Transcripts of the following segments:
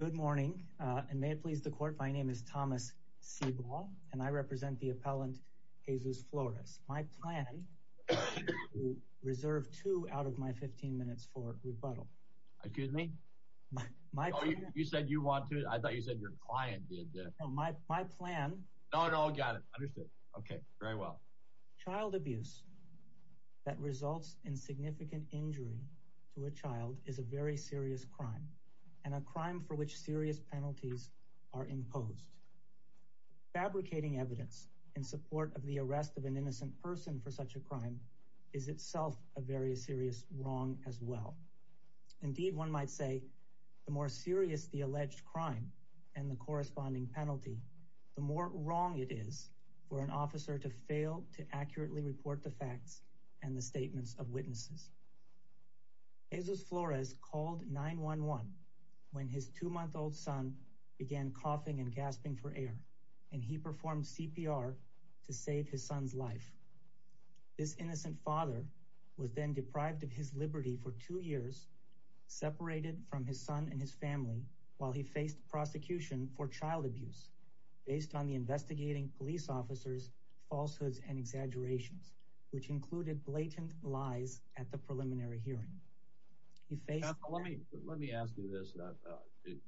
Good morning and may it please the court my name is Thomas Seaball and I represent the appellant Jesus Flores. My plan is to reserve two out of my 15 minutes for rebuttal. Are you kidding me? You said you want to, I thought you said your client did this. No, my plan. No, no, got it, understood. Okay, very well. Child abuse that results in significant injury to a child is a very serious crime and a crime for which serious penalties are imposed. Fabricating evidence in support of the arrest of an innocent person for such a crime is itself a very serious wrong as well. Indeed, one might say the more serious the alleged crime and the corresponding penalty, the more wrong it is for an officer to fail to accurately report the facts and the statements of witnesses. Jesus Flores called 911 when his two-month-old son began coughing and gasping for air and he performed CPR to save his son's life. This innocent father was then deprived of his liberty for two years, separated from his son and his family while he faced prosecution for child abuse based on the investigating police officers falsehoods and exaggerations which included blatant lies at preliminary hearing. Let me ask you this,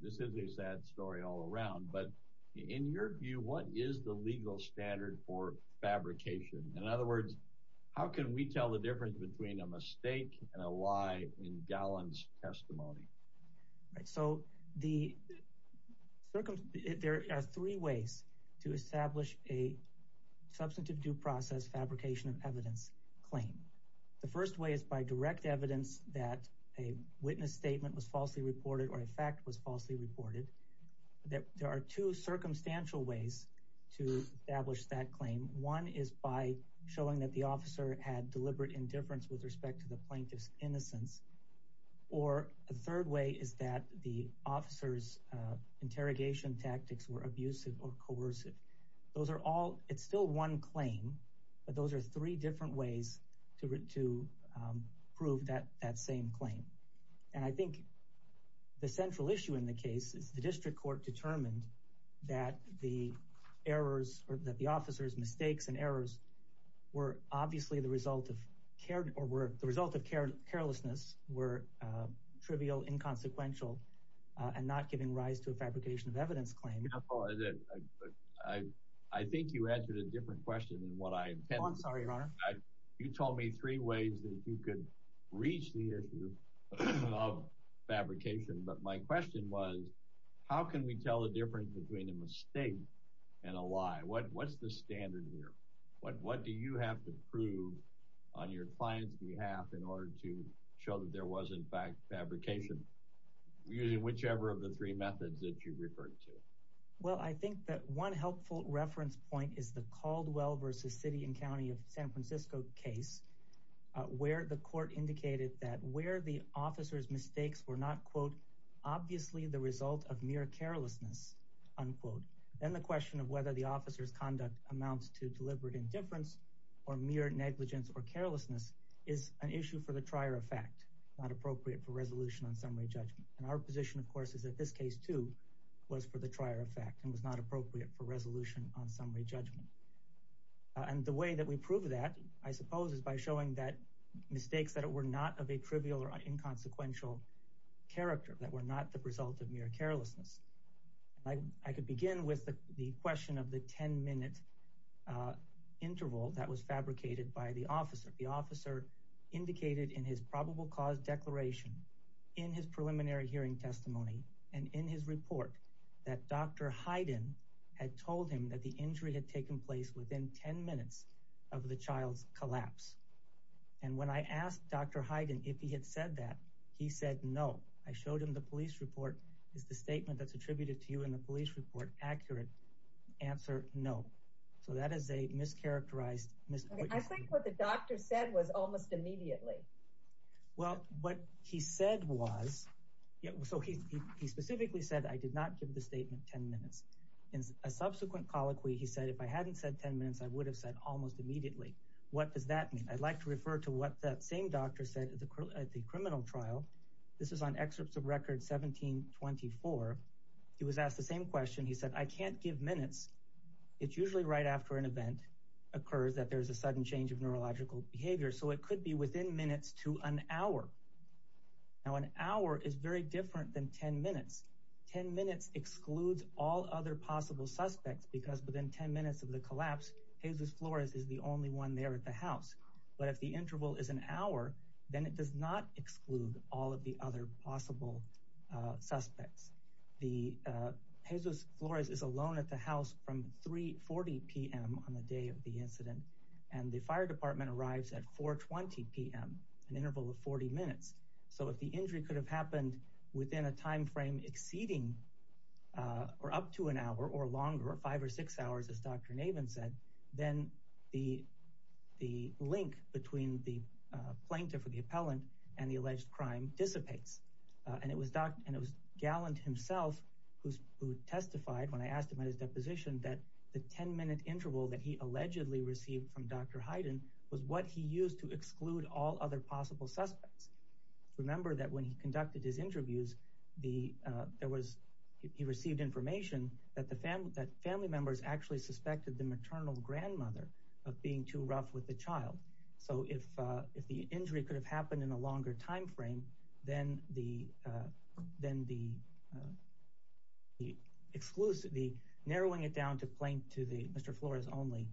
this is a sad story all around, but in your view, what is the legal standard for fabrication? In other words, how can we tell the difference between a mistake and a lie in Gallen's testimony? Right, so there are three ways to establish a direct evidence that a witness statement was falsely reported or a fact was falsely reported. There are two circumstantial ways to establish that claim. One is by showing that the officer had deliberate indifference with respect to the plaintiff's innocence or a third way is that the officer's interrogation tactics were abusive or coercive. Those are all, it's still one claim, but those are three different ways to prove that same claim and I think the central issue in the case is the district court determined that the errors or that the officer's mistakes and errors were obviously the result of care or were the result of carelessness were trivial, inconsequential and not giving rise to a fabrication of evidence claim. I think you answered a different question than what I intended. I'm sorry, your honor. You told me three ways that you could reach the issue of fabrication, but my question was how can we tell the difference between a mistake and a lie? What's the standard here? What do you have to prove on your client's behalf in order to show that there was in fact fabrication using whichever of the three methods that you referred to? Well, I think that one helpful reference point is the Caldwell versus city and county of San Francisco case where the court indicated that where the officer's mistakes were not, quote, obviously the result of mere carelessness, unquote, then the question of whether the officer's conduct amounts to deliberate indifference or mere negligence or carelessness is an issue for the trier of fact, not appropriate for resolution on summary judgment. And our position, of course, is that this case too was for the trier of fact and was not appropriate for resolution on summary judgment. And the way that we prove that, I suppose, is by showing that mistakes that were not of a trivial or inconsequential character that were not the result of mere carelessness. I could begin with the question of the 10 minute interval that was indicated in his probable cause declaration in his preliminary hearing testimony and in his report that Dr. Hyden had told him that the injury had taken place within 10 minutes of the child's collapse. And when I asked Dr. Hyden if he had said that, he said no. I showed him the police report. Is the statement that's attributed to you in the police report accurate? Answer, no. So that is a mischaracterized. I think what the doctor said was almost immediately. Well, what he said was, so he specifically said, I did not give the statement 10 minutes. In a subsequent colloquy, he said, if I hadn't said 10 minutes, I would have said almost immediately. What does that mean? I'd like to refer to what that same doctor said at the criminal trial. This is on excerpts of record 1724. He was asked the same question. He said, I can't give minutes. It's occurs that there's a sudden change of neurological behavior, so it could be within minutes to an hour. Now, an hour is very different than 10 minutes. 10 minutes excludes all other possible suspects because within 10 minutes of the collapse, Jesus Flores is the only one there at the house. But if the interval is an hour, then it does not exclude all of the other possible suspects. The Jesus Flores is alone at the house from 3.40 p.m. on the day of the incident, and the fire department arrives at 4.20 p.m., an interval of 40 minutes. So if the injury could have happened within a time frame exceeding or up to an hour or longer, five or six hours, as Dr. Navin said, then the link between the plaintiff or the appellant and the alleged crime dissipates. And it was Galland himself who testified when I asked him at his deposition that the 10-minute interval that he allegedly received from Dr. Hyden was what he used to exclude all other possible suspects. Remember that when he conducted his interviews, he received information that family members actually suspected the maternal grandmother of being too rough with the child. So if the injury could have happened in a longer time frame, then the exclusively narrowing it down to Mr. Flores only,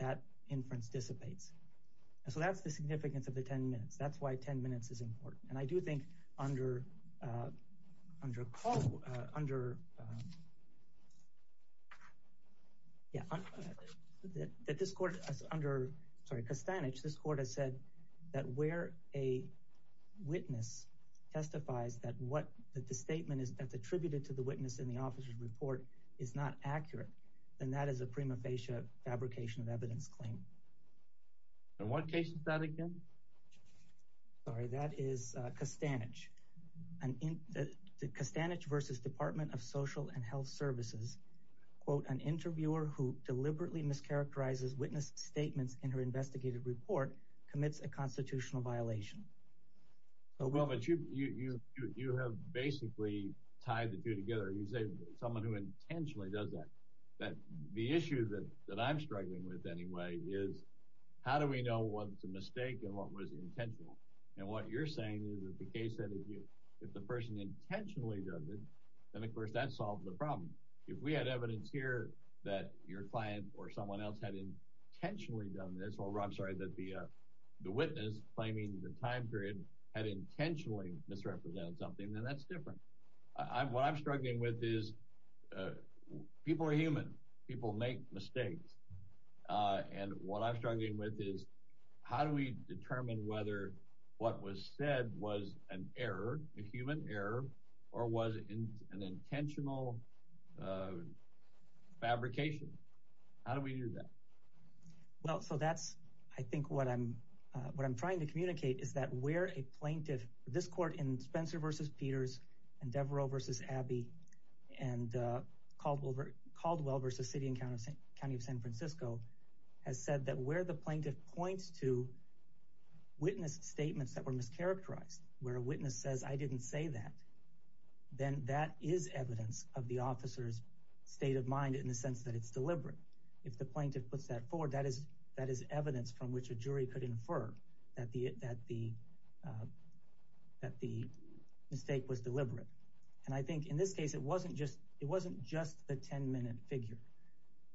that inference dissipates. So that's the significance of the 10 minutes. That's why 10 minutes is important. And I do think under Costanich, this court has said that where a witness testifies that the statement is attributed to the witness in the officer's report is not accurate, then that is a prima fidelis. And in the Costanich versus Department of Social and Health Services, quote, an interviewer who deliberately mischaracterizes witness statements in her investigated report commits a constitutional violation. Well, but you have basically tied the two together. You say someone who intentionally does that. But the issue that I'm struggling with anyway is how do we know what's a mistake and what was intentional? And what you're saying is that the case that if the person intentionally does it, then of course that solves the problem. If we had evidence here that your client or someone else had intentionally done this, or I'm sorry, that the witness claiming the time period had intentionally misrepresented something, then that's different. What I'm struggling with is people are human. People make mistakes. And what I'm struggling with is how do we determine whether what was said was an error, a human error, or was it an intentional fabrication? How do we do that? Well, so that's I think what I'm trying to communicate is that where a plaintiff, this court in Spencer versus Peters and Devereux versus Abbey and Caldwell versus City and County of San Francisco, has said that where the plaintiff points to witness statements that were mischaracterized, where a witness says, I didn't say that, then that is evidence of the officer's state of mind in the sense that it's deliberate. If the plaintiff puts that forward, that is evidence from which a jury could infer that the mistake was deliberate. And I think in this case, it wasn't just the 10-minute figure.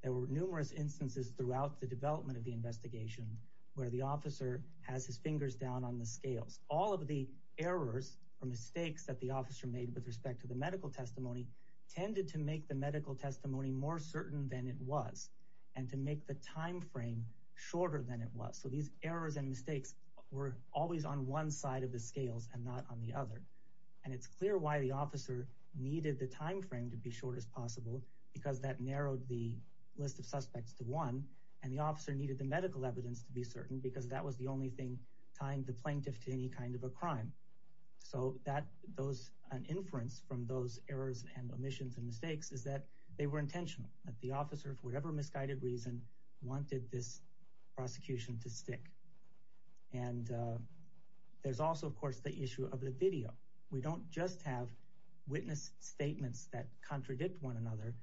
There were numerous instances throughout the development of the investigation where the officer has his fingers down on the scales. All of the errors or mistakes that the officer made with respect to the medical testimony tended to make the medical testimony more certain than it was and to make the time frame shorter than it was. So these errors and mistakes were always on one side of the scales and not on the other. And it's clear why the officer needed the time frame to be short as possible because that narrowed the list of suspects to one and the officer needed the medical evidence to be certain because that was the only thing tying the plaintiff to any kind of a crime. So an inference from those errors and omissions and mistakes is that they were intentional, that the officer, for whatever misguided reason, wanted this prosecution to stick. And there's also, of course, the issue of the video. We don't just have witness statements that contradict one another.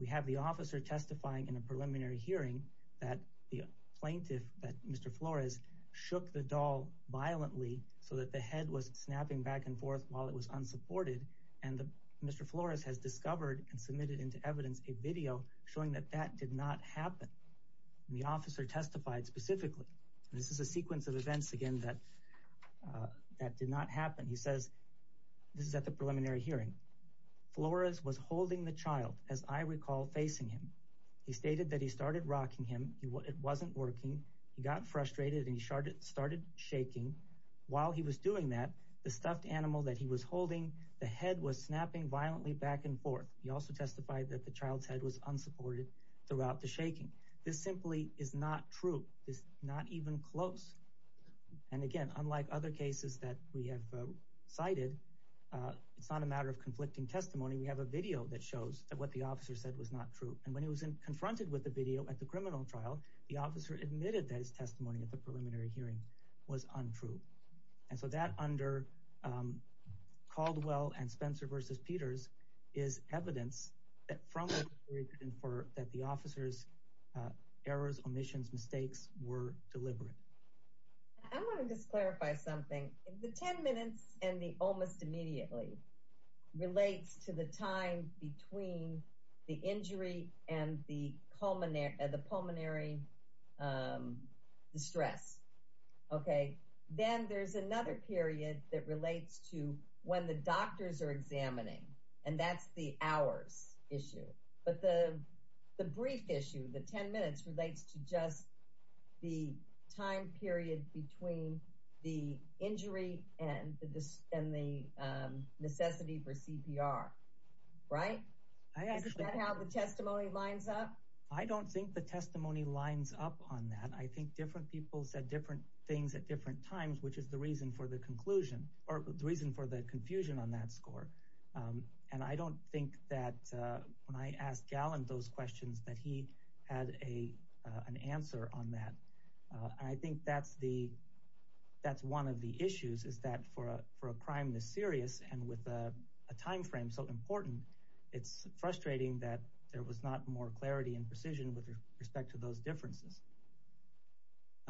We have the officer testifying in a preliminary hearing that the plaintiff, Mr. Flores, shook the doll violently so that the head was snapping back and forth while it was unsupported. And Mr. Flores has discovered and submitted into evidence a video showing that that did not happen. The officer testified specifically. This is a sequence of events, again, that did not happen. He says, this is at the preliminary hearing, Flores was holding the child, as I recall, facing him. He stated that he started rocking him. It wasn't working. He got frustrated and started shaking. While he was doing that, the stuffed animal that he was holding, the head was snapping violently back and forth. He also testified that the child's head was unsupported throughout the shaking. This simply is not true. It's not even close. And again, unlike other cases that we have cited, it's not a matter of conflicting testimony. We have a video that shows that what the officer said was not true. And when he was confronted with the video at the criminal trial, the officer admitted that his testimony at the preliminary hearing was untrue. And so that, under Caldwell and Spencer v. Peters, is evidence that from that the officer's errors, omissions, mistakes were deliberate. I want to just clarify something. The 10 minutes and the almost immediately relates to the time between the injury and the pulmonary distress. Then there's another period that relates to when the doctors are examining. And that's the hours issue. But the brief issue, the 10 minutes, relates to just the time period between the injury and the necessity for CPR. Right? Is that how the testimony lines up? I don't think the testimony lines up on that. I think different people said different things at different times, which is the reason for the confusion on that score. And I don't think that when I asked Gallant those questions that he had an answer on that. I think that's one of the issues, is that for a crime this serious and with a time frame so important, it's frustrating that there was not more clarity and precision with respect to those differences.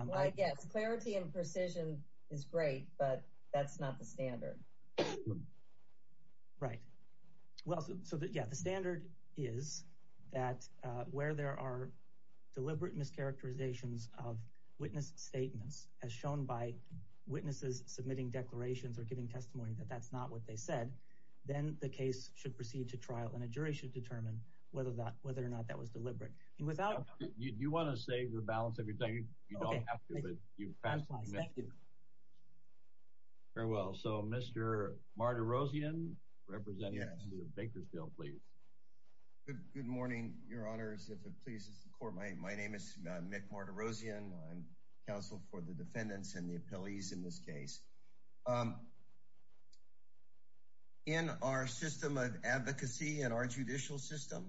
Well, I guess clarity and precision is great, but that's not the standard. Right. Well, so yeah, the standard is that where there are deliberate mischaracterizations of witness statements, as shown by witnesses submitting declarations or giving testimony that that's not what they said, then the case should proceed to trial and a jury should determine whether or not that was deliberate. And without... You want to save the balance of your time? You don't have to, but you've passed my message. Very well. So Mr. Martirosian, representing the Bakersfield, please. Good morning, your honors. If it pleases the court, my name is Mick Martirosian. I'm counsel for the defendants and the appellees in this case. In our system of advocacy and our judicial system,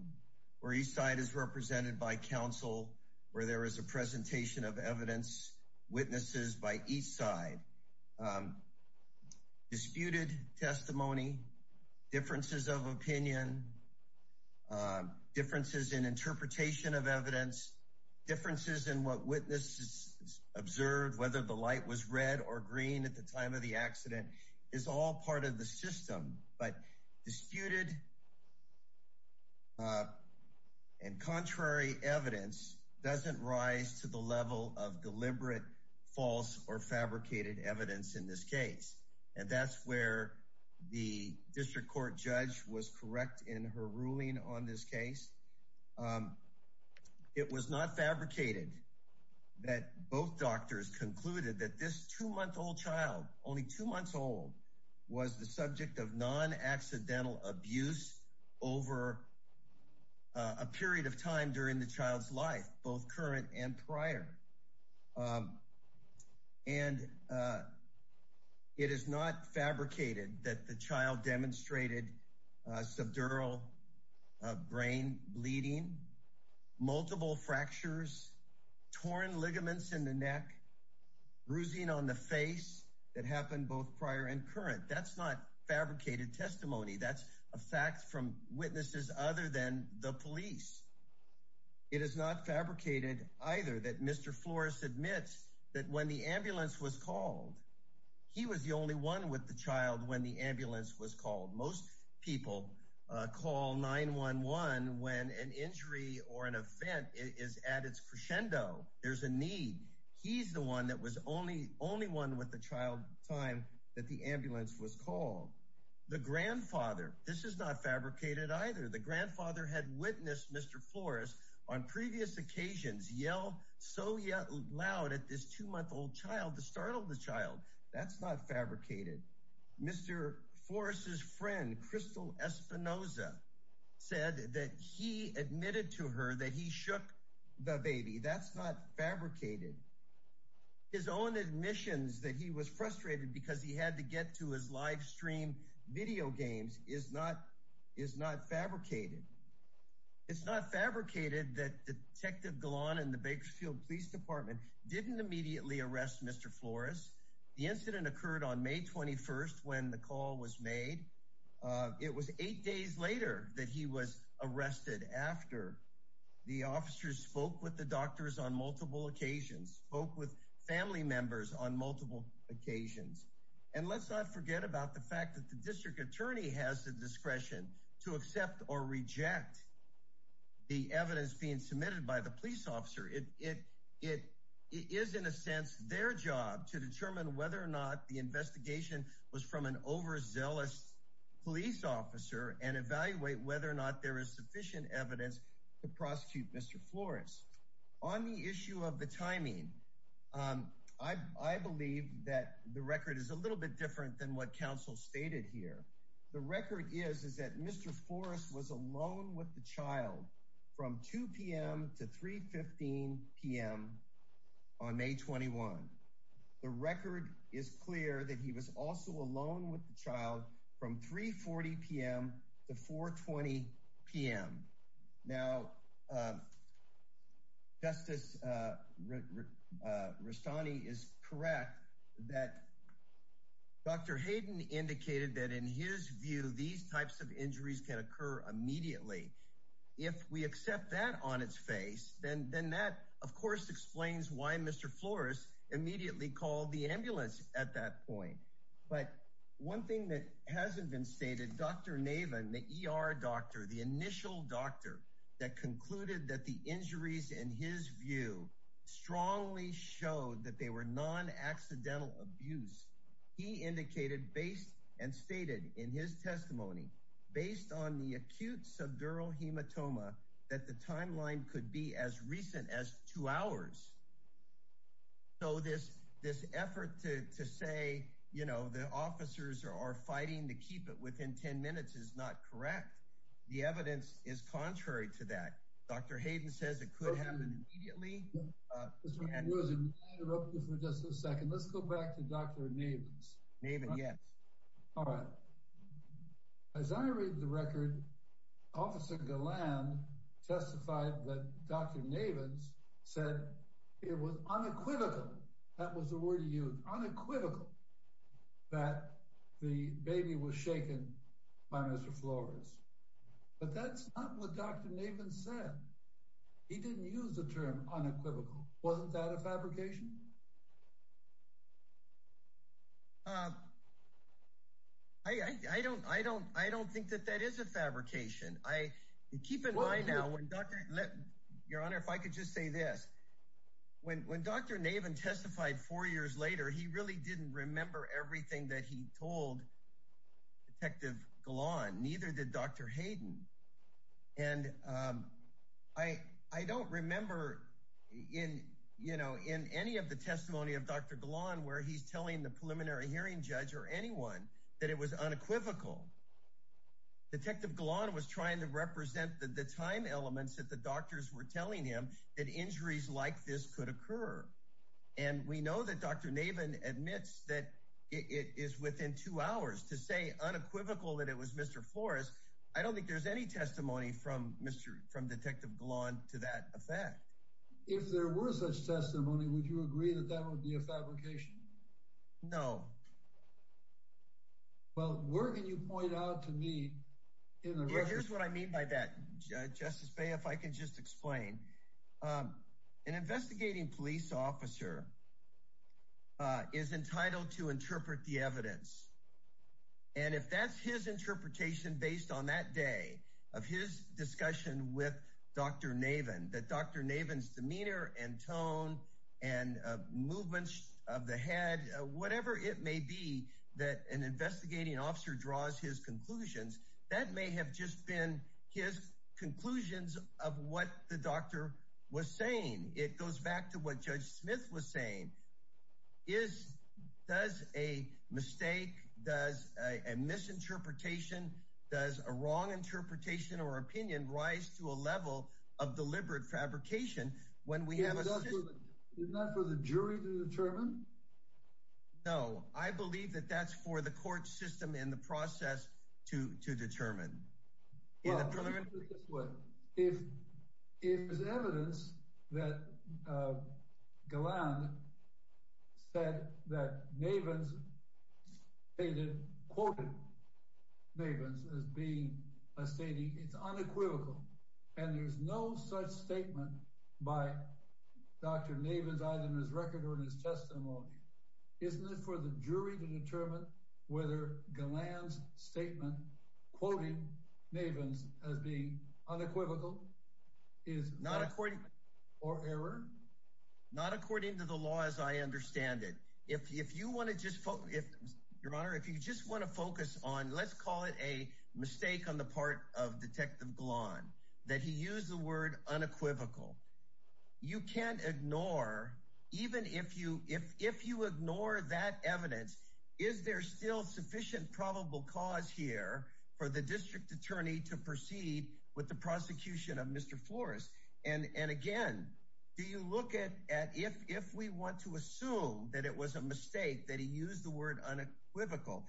where each side is represented by counsel, where there is a presentation of evidence, witnesses by each side, disputed testimony, differences of opinion, differences in interpretation of evidence, differences in what witnesses observed, whether the light was red or green at the time of the accident, is all part of the system. But and contrary evidence doesn't rise to the level of deliberate false or fabricated evidence in this case. And that's where the district court judge was correct in her ruling on this case. It was not fabricated that both doctors concluded that this two-month-old child, only two months old, was the subject of non-accidental abuse over a period of time during the child's life, both current and prior. And it is not fabricated that the child demonstrated subdural brain bleeding, multiple fractures, torn ligaments in the neck, bruising on the face that happened both prior and current. That's not fabricated testimony. That's a fact from witnesses other than the police. It is not fabricated either that Mr. Flores admits that when the ambulance was called, he was the only one with the child when the ambulance was called. Most people call 9-1-1 when an injury or an event is at its crescendo. There's a need. He's the one that was only, only one with the child at the time that the ambulance was called. The grandfather, this is not fabricated either. The grandfather had witnessed Mr. Flores on previous occasions yell so loud at this two-month-old child to startle the child. That's not fabricated. Mr. Flores' friend, Crystal Espinoza, said that he admitted to her that he shook the baby. That's not fabricated. His own admissions that he was frustrated because he had to get to his live stream video games is not, is not fabricated. It's not fabricated that Detective Galan and the Bakersfield Police Department didn't immediately arrest Mr. Flores. The incident occurred on May 21st when the call was made. It was eight days later that he was arrested after the officers spoke with the doctors on multiple occasions, spoke with family members on multiple occasions. And let's not forget about the fact that the district attorney has the discretion to accept or reject the evidence being submitted by the police officer. It is, in a sense, their job to determine whether or not the investigation was from an overzealous police officer and evaluate whether or not there is sufficient evidence to prosecute Mr. Flores. On the issue of the timing, I believe that the record is a little bit different than what counsel stated here. The record is, is that Mr. Flores was alone with the child from 2 p.m. to 3 p.m. on May 21. The record is clear that he was also alone with the child from 3 p.m. to 4 p.m. Now, Justice Rastani is correct that Dr. Hayden indicated that in his view, these types of events were not accidental. And that, of course, explains why Mr. Flores immediately called the ambulance at that point. But one thing that hasn't been stated, Dr. Navin, the ER doctor, the initial doctor that concluded that the injuries in his view strongly showed that they were non-accidental abuse, he indicated based and stated in his testimony, based on the acute subdural hematoma, that the timeline could be as recent as two hours. So this, this effort to say, you know, the officers are fighting to keep it within 10 minutes is not correct. The evidence is contrary to that. Dr. Hayden says it could happen immediately. Mr. Rosen, let me interrupt you for just a second. Let's go back to Dr. Navin's. Navin, yes. All right. As I read the record, Officer Galland testified that Dr. Navin said it was unequivocal, that was the word he used, unequivocal that the baby was shaken by Mr. Flores. But that's not what Dr. Navin said. He didn't use the term unequivocal. Wasn't that a fabrication? Um, I don't, I don't, I don't think that that is a fabrication. I keep in mind now when Dr. Your Honor, if I could just say this, when Dr. Navin testified four years later, he really didn't remember everything that he told Detective Galland, neither did Dr. Hayden. And I, I don't remember in, you know, in any of the testimony of Dr. Galland, where he's telling the preliminary hearing judge or anyone that it was unequivocal. Detective Galland was trying to represent the time elements that the doctors were telling him that injuries like this could occur. And we know that Dr. Navin admits that it is within two hours to say unequivocal that it was Mr. Flores. I don't think there's any testimony from Mr., from Detective Galland to that effect. If there were such testimony, would you agree that that would be a fabrication? No. Well, where can you point out to me in the record? Here's what I mean by that, Justice Bey, if I can just explain. An investigating police officer is entitled to interpret the evidence. And if that's his interpretation based on that day of his discussion with Dr. Navin, that Dr. Navin's demeanor and tone and movements of the head, whatever it may be that an investigating officer draws his conclusions, that may have just been his conclusions of what the doctor was saying. It goes back to what Judge Smith was saying. Does a mistake, does a misinterpretation, does a wrong interpretation or opinion rise to a level of deliberate fabrication when we have a system? Is that for the jury to determine? No, I believe that that's for the court system in the process to determine. If there's evidence that Galland said that Navin's stated, quoted Navin's as being a stating, it's unequivocal. And there's no such statement by Dr. Navin's either in his record or his testimony. Isn't it for the jury to determine whether Galland's statement, quoting Navin's as being unequivocal, is not according or error? Not according to the law as I understand it. If you want to just focus, Your Honor, if you just want to focus on, let's call it a mistake on the part of Detective Galland, that he used the word unequivocal. You can't ignore, even if you ignore that evidence, is there still sufficient probable cause here for the district attorney to proceed with the prosecution of Mr. Flores? And again, do you look at if we want to assume that it was a mistake that he used the word unequivocally,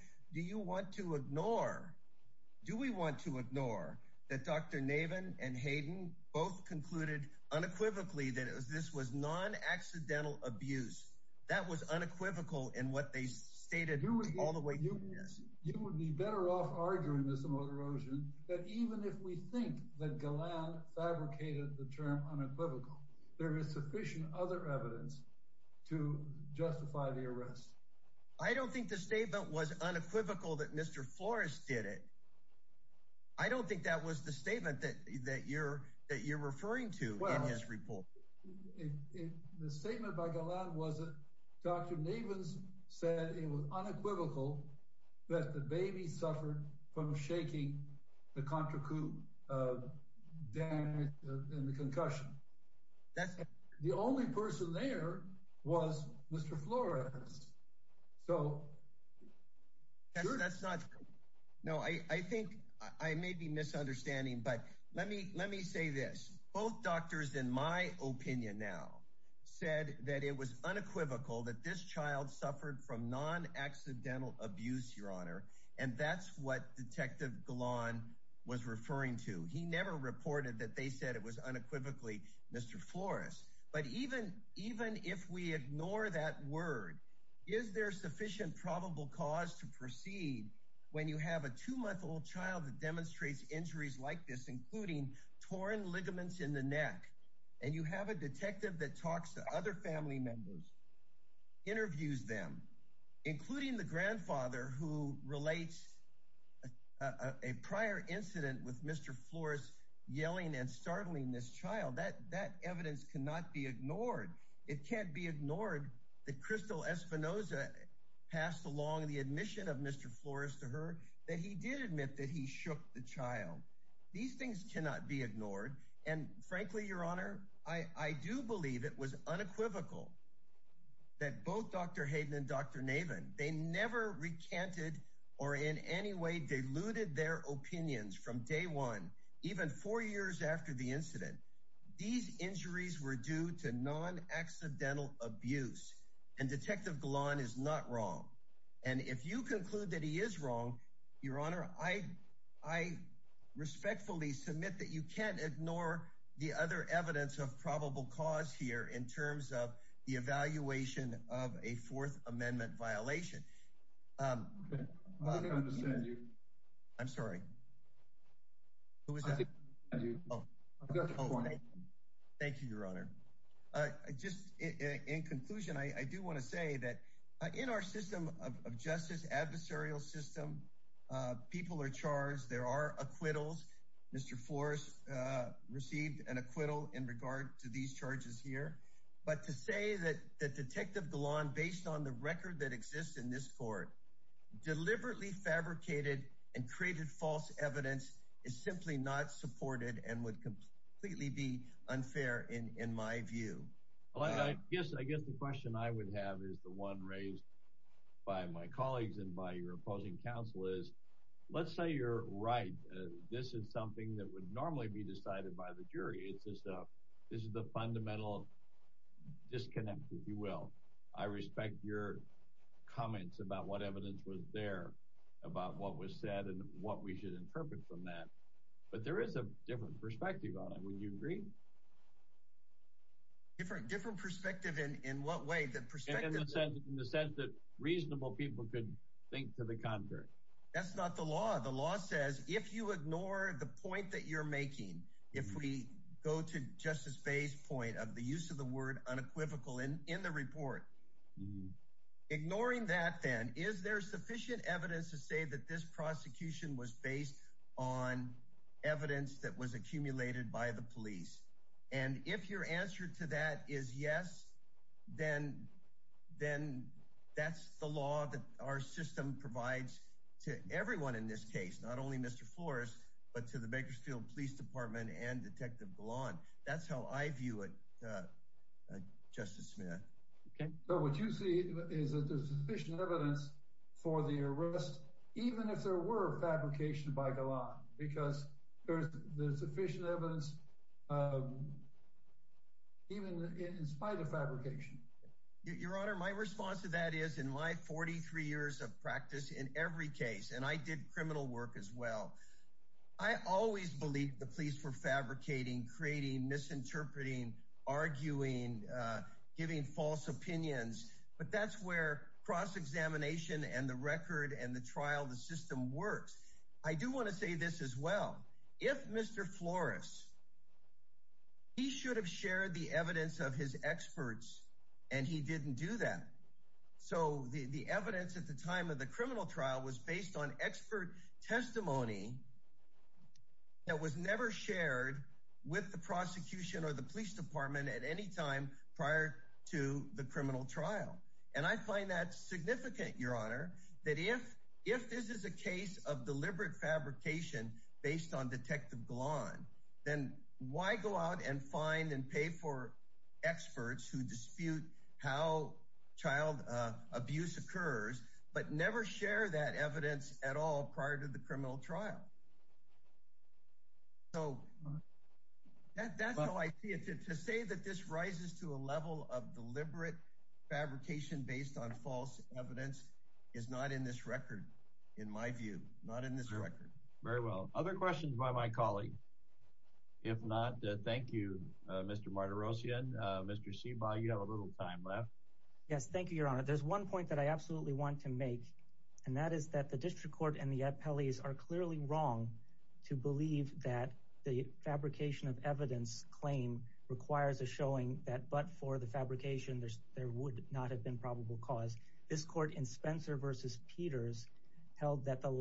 that this was non-accidental abuse? That was unequivocal in what they stated all the way through this. You would be better off arguing, Mr. Motorosian, that even if we think that Galland fabricated the term unequivocal, there is sufficient other evidence to justify the arrest. I don't think the statement was unequivocal that Mr. Flores did it. I don't think that was the statement that you're referring to in his report. The statement by Galland was that Dr. Nevins said it was unequivocal that the baby suffered from shaking, the contracoup damage, and the concussion. The only person there was Mr. Flores. So that's not... No, I think I may be misunderstanding, but let me say this. Both doctors, in my opinion now, said that it was unequivocal that this child suffered from non-accidental abuse, Your Honor, and that's what Detective Galland was referring to. He never reported that they said it was unequivocally Mr. Flores. But even if we ignore that word, is there sufficient probable cause to proceed when you have a two-month-old child that demonstrates injuries like this, including torn ligaments in the neck, and you have a detective that talks to other family members, interviews them, including the grandfather who relates a prior incident with Mr. Flores yelling and startling this child? That evidence cannot be ignored. It can't be ignored that Crystal Espinoza passed along the admission of Mr. Flores to her that he did admit that he shook the child. These things cannot be ignored, and frankly, Your Honor, I do believe it was unequivocal that both Dr. Hayden and Dr. Navin, they never recanted or in any way diluted their opinions from day one, even four years after the incident. These injuries were due to non-accidental abuse, and Detective Galland is not wrong. And if you conclude that he is wrong, Your Honor, I respectfully submit that you can't ignore the other evidence of probable cause here in terms of the evaluation of a Fourth Amendment violation. I'm sorry. Thank you, Your Honor. In conclusion, I do want to say that in our system of justice, adversarial system, people are charged. There are acquittals. Mr. Flores received an acquittal in regard to these charges here. But to say that Detective Galland, based on the record that exists in this court, deliberately fabricated and created false evidence is simply not supported and would completely be unfair in my view. I guess the question I would have is the one raised by my colleagues and by your opposing counsel is, let's say you're right. This is something that would normally be decided by the jury. It's just this is the fundamental disconnect, if you will. I respect your comments about what evidence was there about what was said and what we should interpret from that. But there is a different perspective on it. Would you agree? Different perspective in what way? In the sense that reasonable people could think to the contrary. That's not the law. The law says if you ignore the point that you're making, if we go to Justice Faye's point of the use of the word unequivocal in the report, ignoring that then, is there sufficient evidence to say that this prosecution was based on evidence that was accumulated by the police? And if your answer to that is yes, then that's the law that our system provides to everyone in this case, not only Mr. Flores, but to the Bakersfield Police Department and Detective Galland. That's how I view it, Justice Smith. Okay, so what you see is that there's sufficient evidence for the arrest, even if there were fabrication by Galland, because there's sufficient evidence even in spite of fabrication. Your Honor, my response to that is in my 43 years of practice in every case, and I did criminal work as well, I always believed the police were fabricating, creating, misinterpreting, arguing, giving false opinions. But that's where cross examination and the record and the trial, the system works. I do want to say this as well. If Mr. Flores, he should have shared the evidence of his experts and he didn't do that. So the evidence at the time of the criminal trial was based on expert testimony that was never shared with the prosecution or the police department at any time prior to the criminal trial. And I find that significant, Your Honor, that if this is a case of deliberate fabrication based on Detective Galland, then why go out and find and pay for experts who dispute how child abuse occurs, but never share that evidence at all prior to the criminal trial? So that's how I see it. To say that this rises to a level of deliberate fabrication based on other questions by my colleague, if not, thank you, Mr. Martirosyan. Mr. Ciba, you have a little time left. Yes, thank you, Your Honor. There's one point that I absolutely want to make, and that is that the district court and the appellees are clearly wrong to believe that the fabrication of evidence claim requires a showing that but for the fabrication, there would not have been probable cause. This court in Spencer versus Peters held that the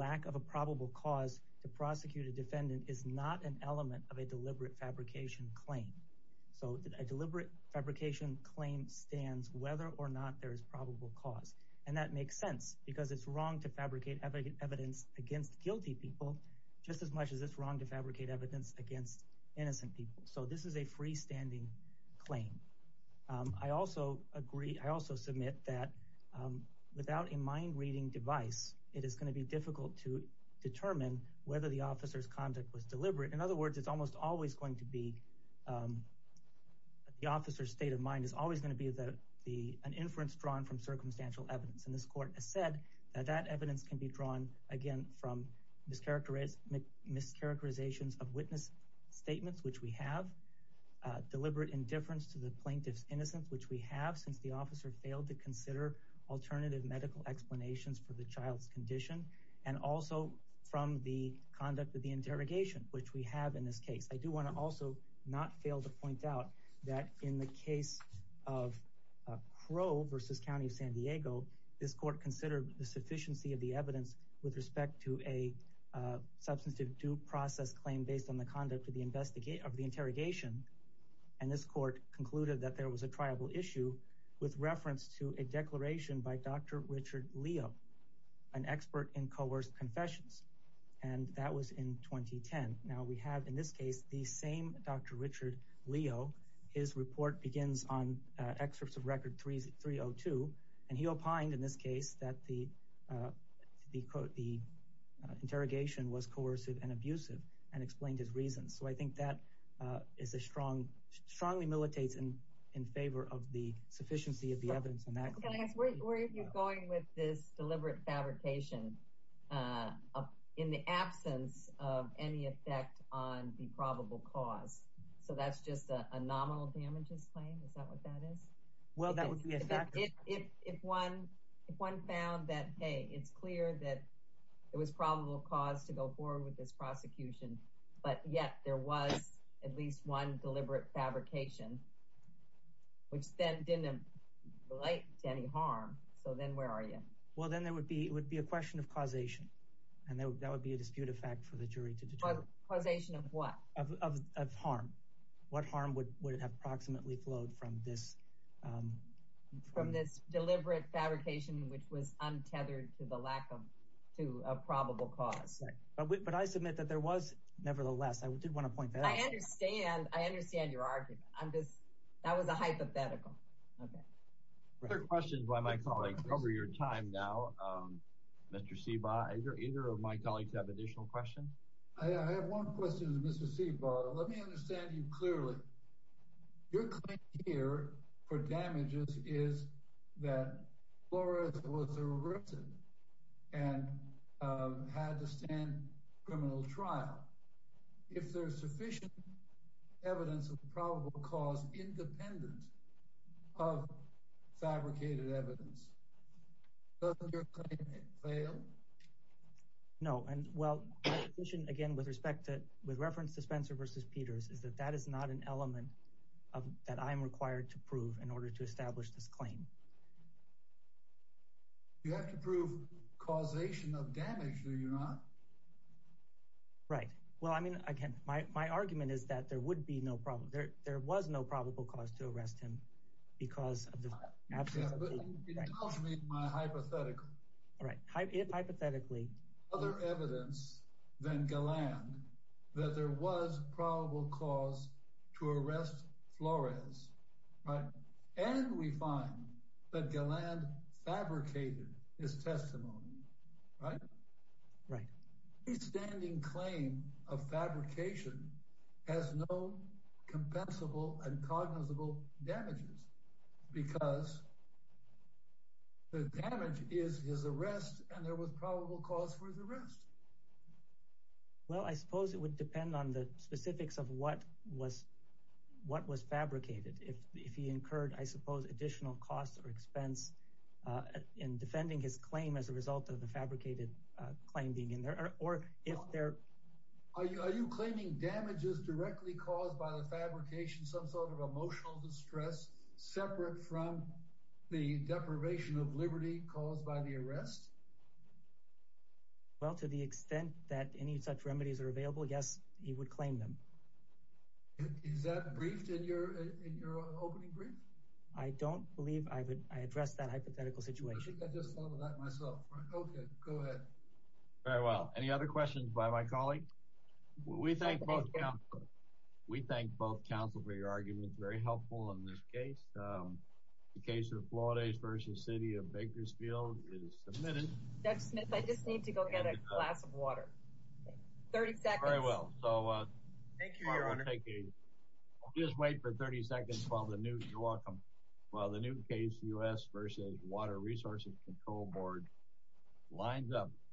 defendant is not an element of a deliberate fabrication claim. So a deliberate fabrication claim stands whether or not there is probable cause. And that makes sense because it's wrong to fabricate evidence against guilty people just as much as it's wrong to fabricate evidence against innocent people. So this is a freestanding claim. I also agree, I also submit that without a mind reading device, it is going to be difficult to determine whether the officer's conduct was deliberate. In other words, it's almost always going to be the officer's state of mind is always going to be an inference drawn from circumstantial evidence. And this court has said that that evidence can be drawn, again, from mischaracterizations of witness statements, which we have, deliberate indifference to the plaintiff's innocence, which we have since the alternative medical explanations for the child's condition, and also from the conduct of the interrogation, which we have in this case. I do want to also not fail to point out that in the case of Crow versus County of San Diego, this court considered the sufficiency of the evidence with respect to a substantive due process claim based on the conduct of the interrogation. And this court concluded that there was a tribal issue with reference to a declaration by Dr. Richard Leo, an expert in coerced confessions. And that was in 2010. Now we have in this case, the same Dr. Richard Leo, his report begins on excerpts of record 302, and he opined in this case that the interrogation was coercive and abusive and explained his reasons. So I think that is a strong, strongly militates in favor of the sufficiency of the evidence. Can I ask, where are you going with this deliberate fabrication in the absence of any effect on the probable cause? So that's just a nominal damages claim? Is that what that is? Well, that would be a factor. If one found that, hey, it's clear that it was probable cause to go forward with this prosecution, but yet there was at least one deliberate fabrication, which then didn't relate to any harm. So then where are you? Well, then there would be a question of causation. And that would be a disputed fact for the jury to determine. Causation of what? Of harm. What harm would have approximately flowed from this? From this deliberate fabrication, which was untethered to the lack of, to a probable cause. But I submit that there was, nevertheless, I did want to point that out. I understand. I understand your argument. I'm just, that was a hypothetical. Other questions by my colleagues. We're over your time now. Mr. Sebaugh, either of my colleagues have additional questions? I have one question to Mr. Sebaugh. Let me understand you clearly. Your claim here for damages is that Flores was arrested and had to stand criminal trial. If there's sufficient evidence of probable cause independent of fabricated evidence, doesn't your claim fail? No. And well, my position, again, with respect to, with reference to Spencer versus Peters, is that that is not an element of, that I'm required to prove in order to establish this claim. You have to prove causation of damage, do you not? Right. Well, I mean, again, my argument is that there would be no problem. There was no probable cause to arrest him because of the absence of evidence. Yeah, but it tells me my hypothetical. Right. Hypothetically. Other evidence than Galland that there was probable cause to arrest Flores. Right. And we find that Galland fabricated his testimony. Right? Right. The standing claim of fabrication has no compensable and cognizable damages because the damage is his arrest and there was probable cause for his arrest. Well, I suppose it would depend on the specifics of what was, what was fabricated. If he incurred, I suppose, additional costs or expense in defending his claim as a result of the fabricated claim being in there, or if they're... Are you claiming damages directly caused by the fabrication, some sort of emotional distress separate from the deprivation of liberty caused by the arrest? Well, to the extent that any such remedies are available, yes, he would claim them. Is that briefed in your opening brief? I don't believe I addressed that hypothetical situation. I just thought of that myself. Okay, go ahead. Very well. Any other questions by my colleague? We thank both counsel for your arguments. Very helpful in this case. The case of Flores v. City of Bakersfield is submitted. Judge Smith, I just need to go get a glass of water. 30 seconds. Very well. So I'll just wait for 30 seconds while the new, you're welcome, while the new case, U.S. v. Water Resources Control Board lines up.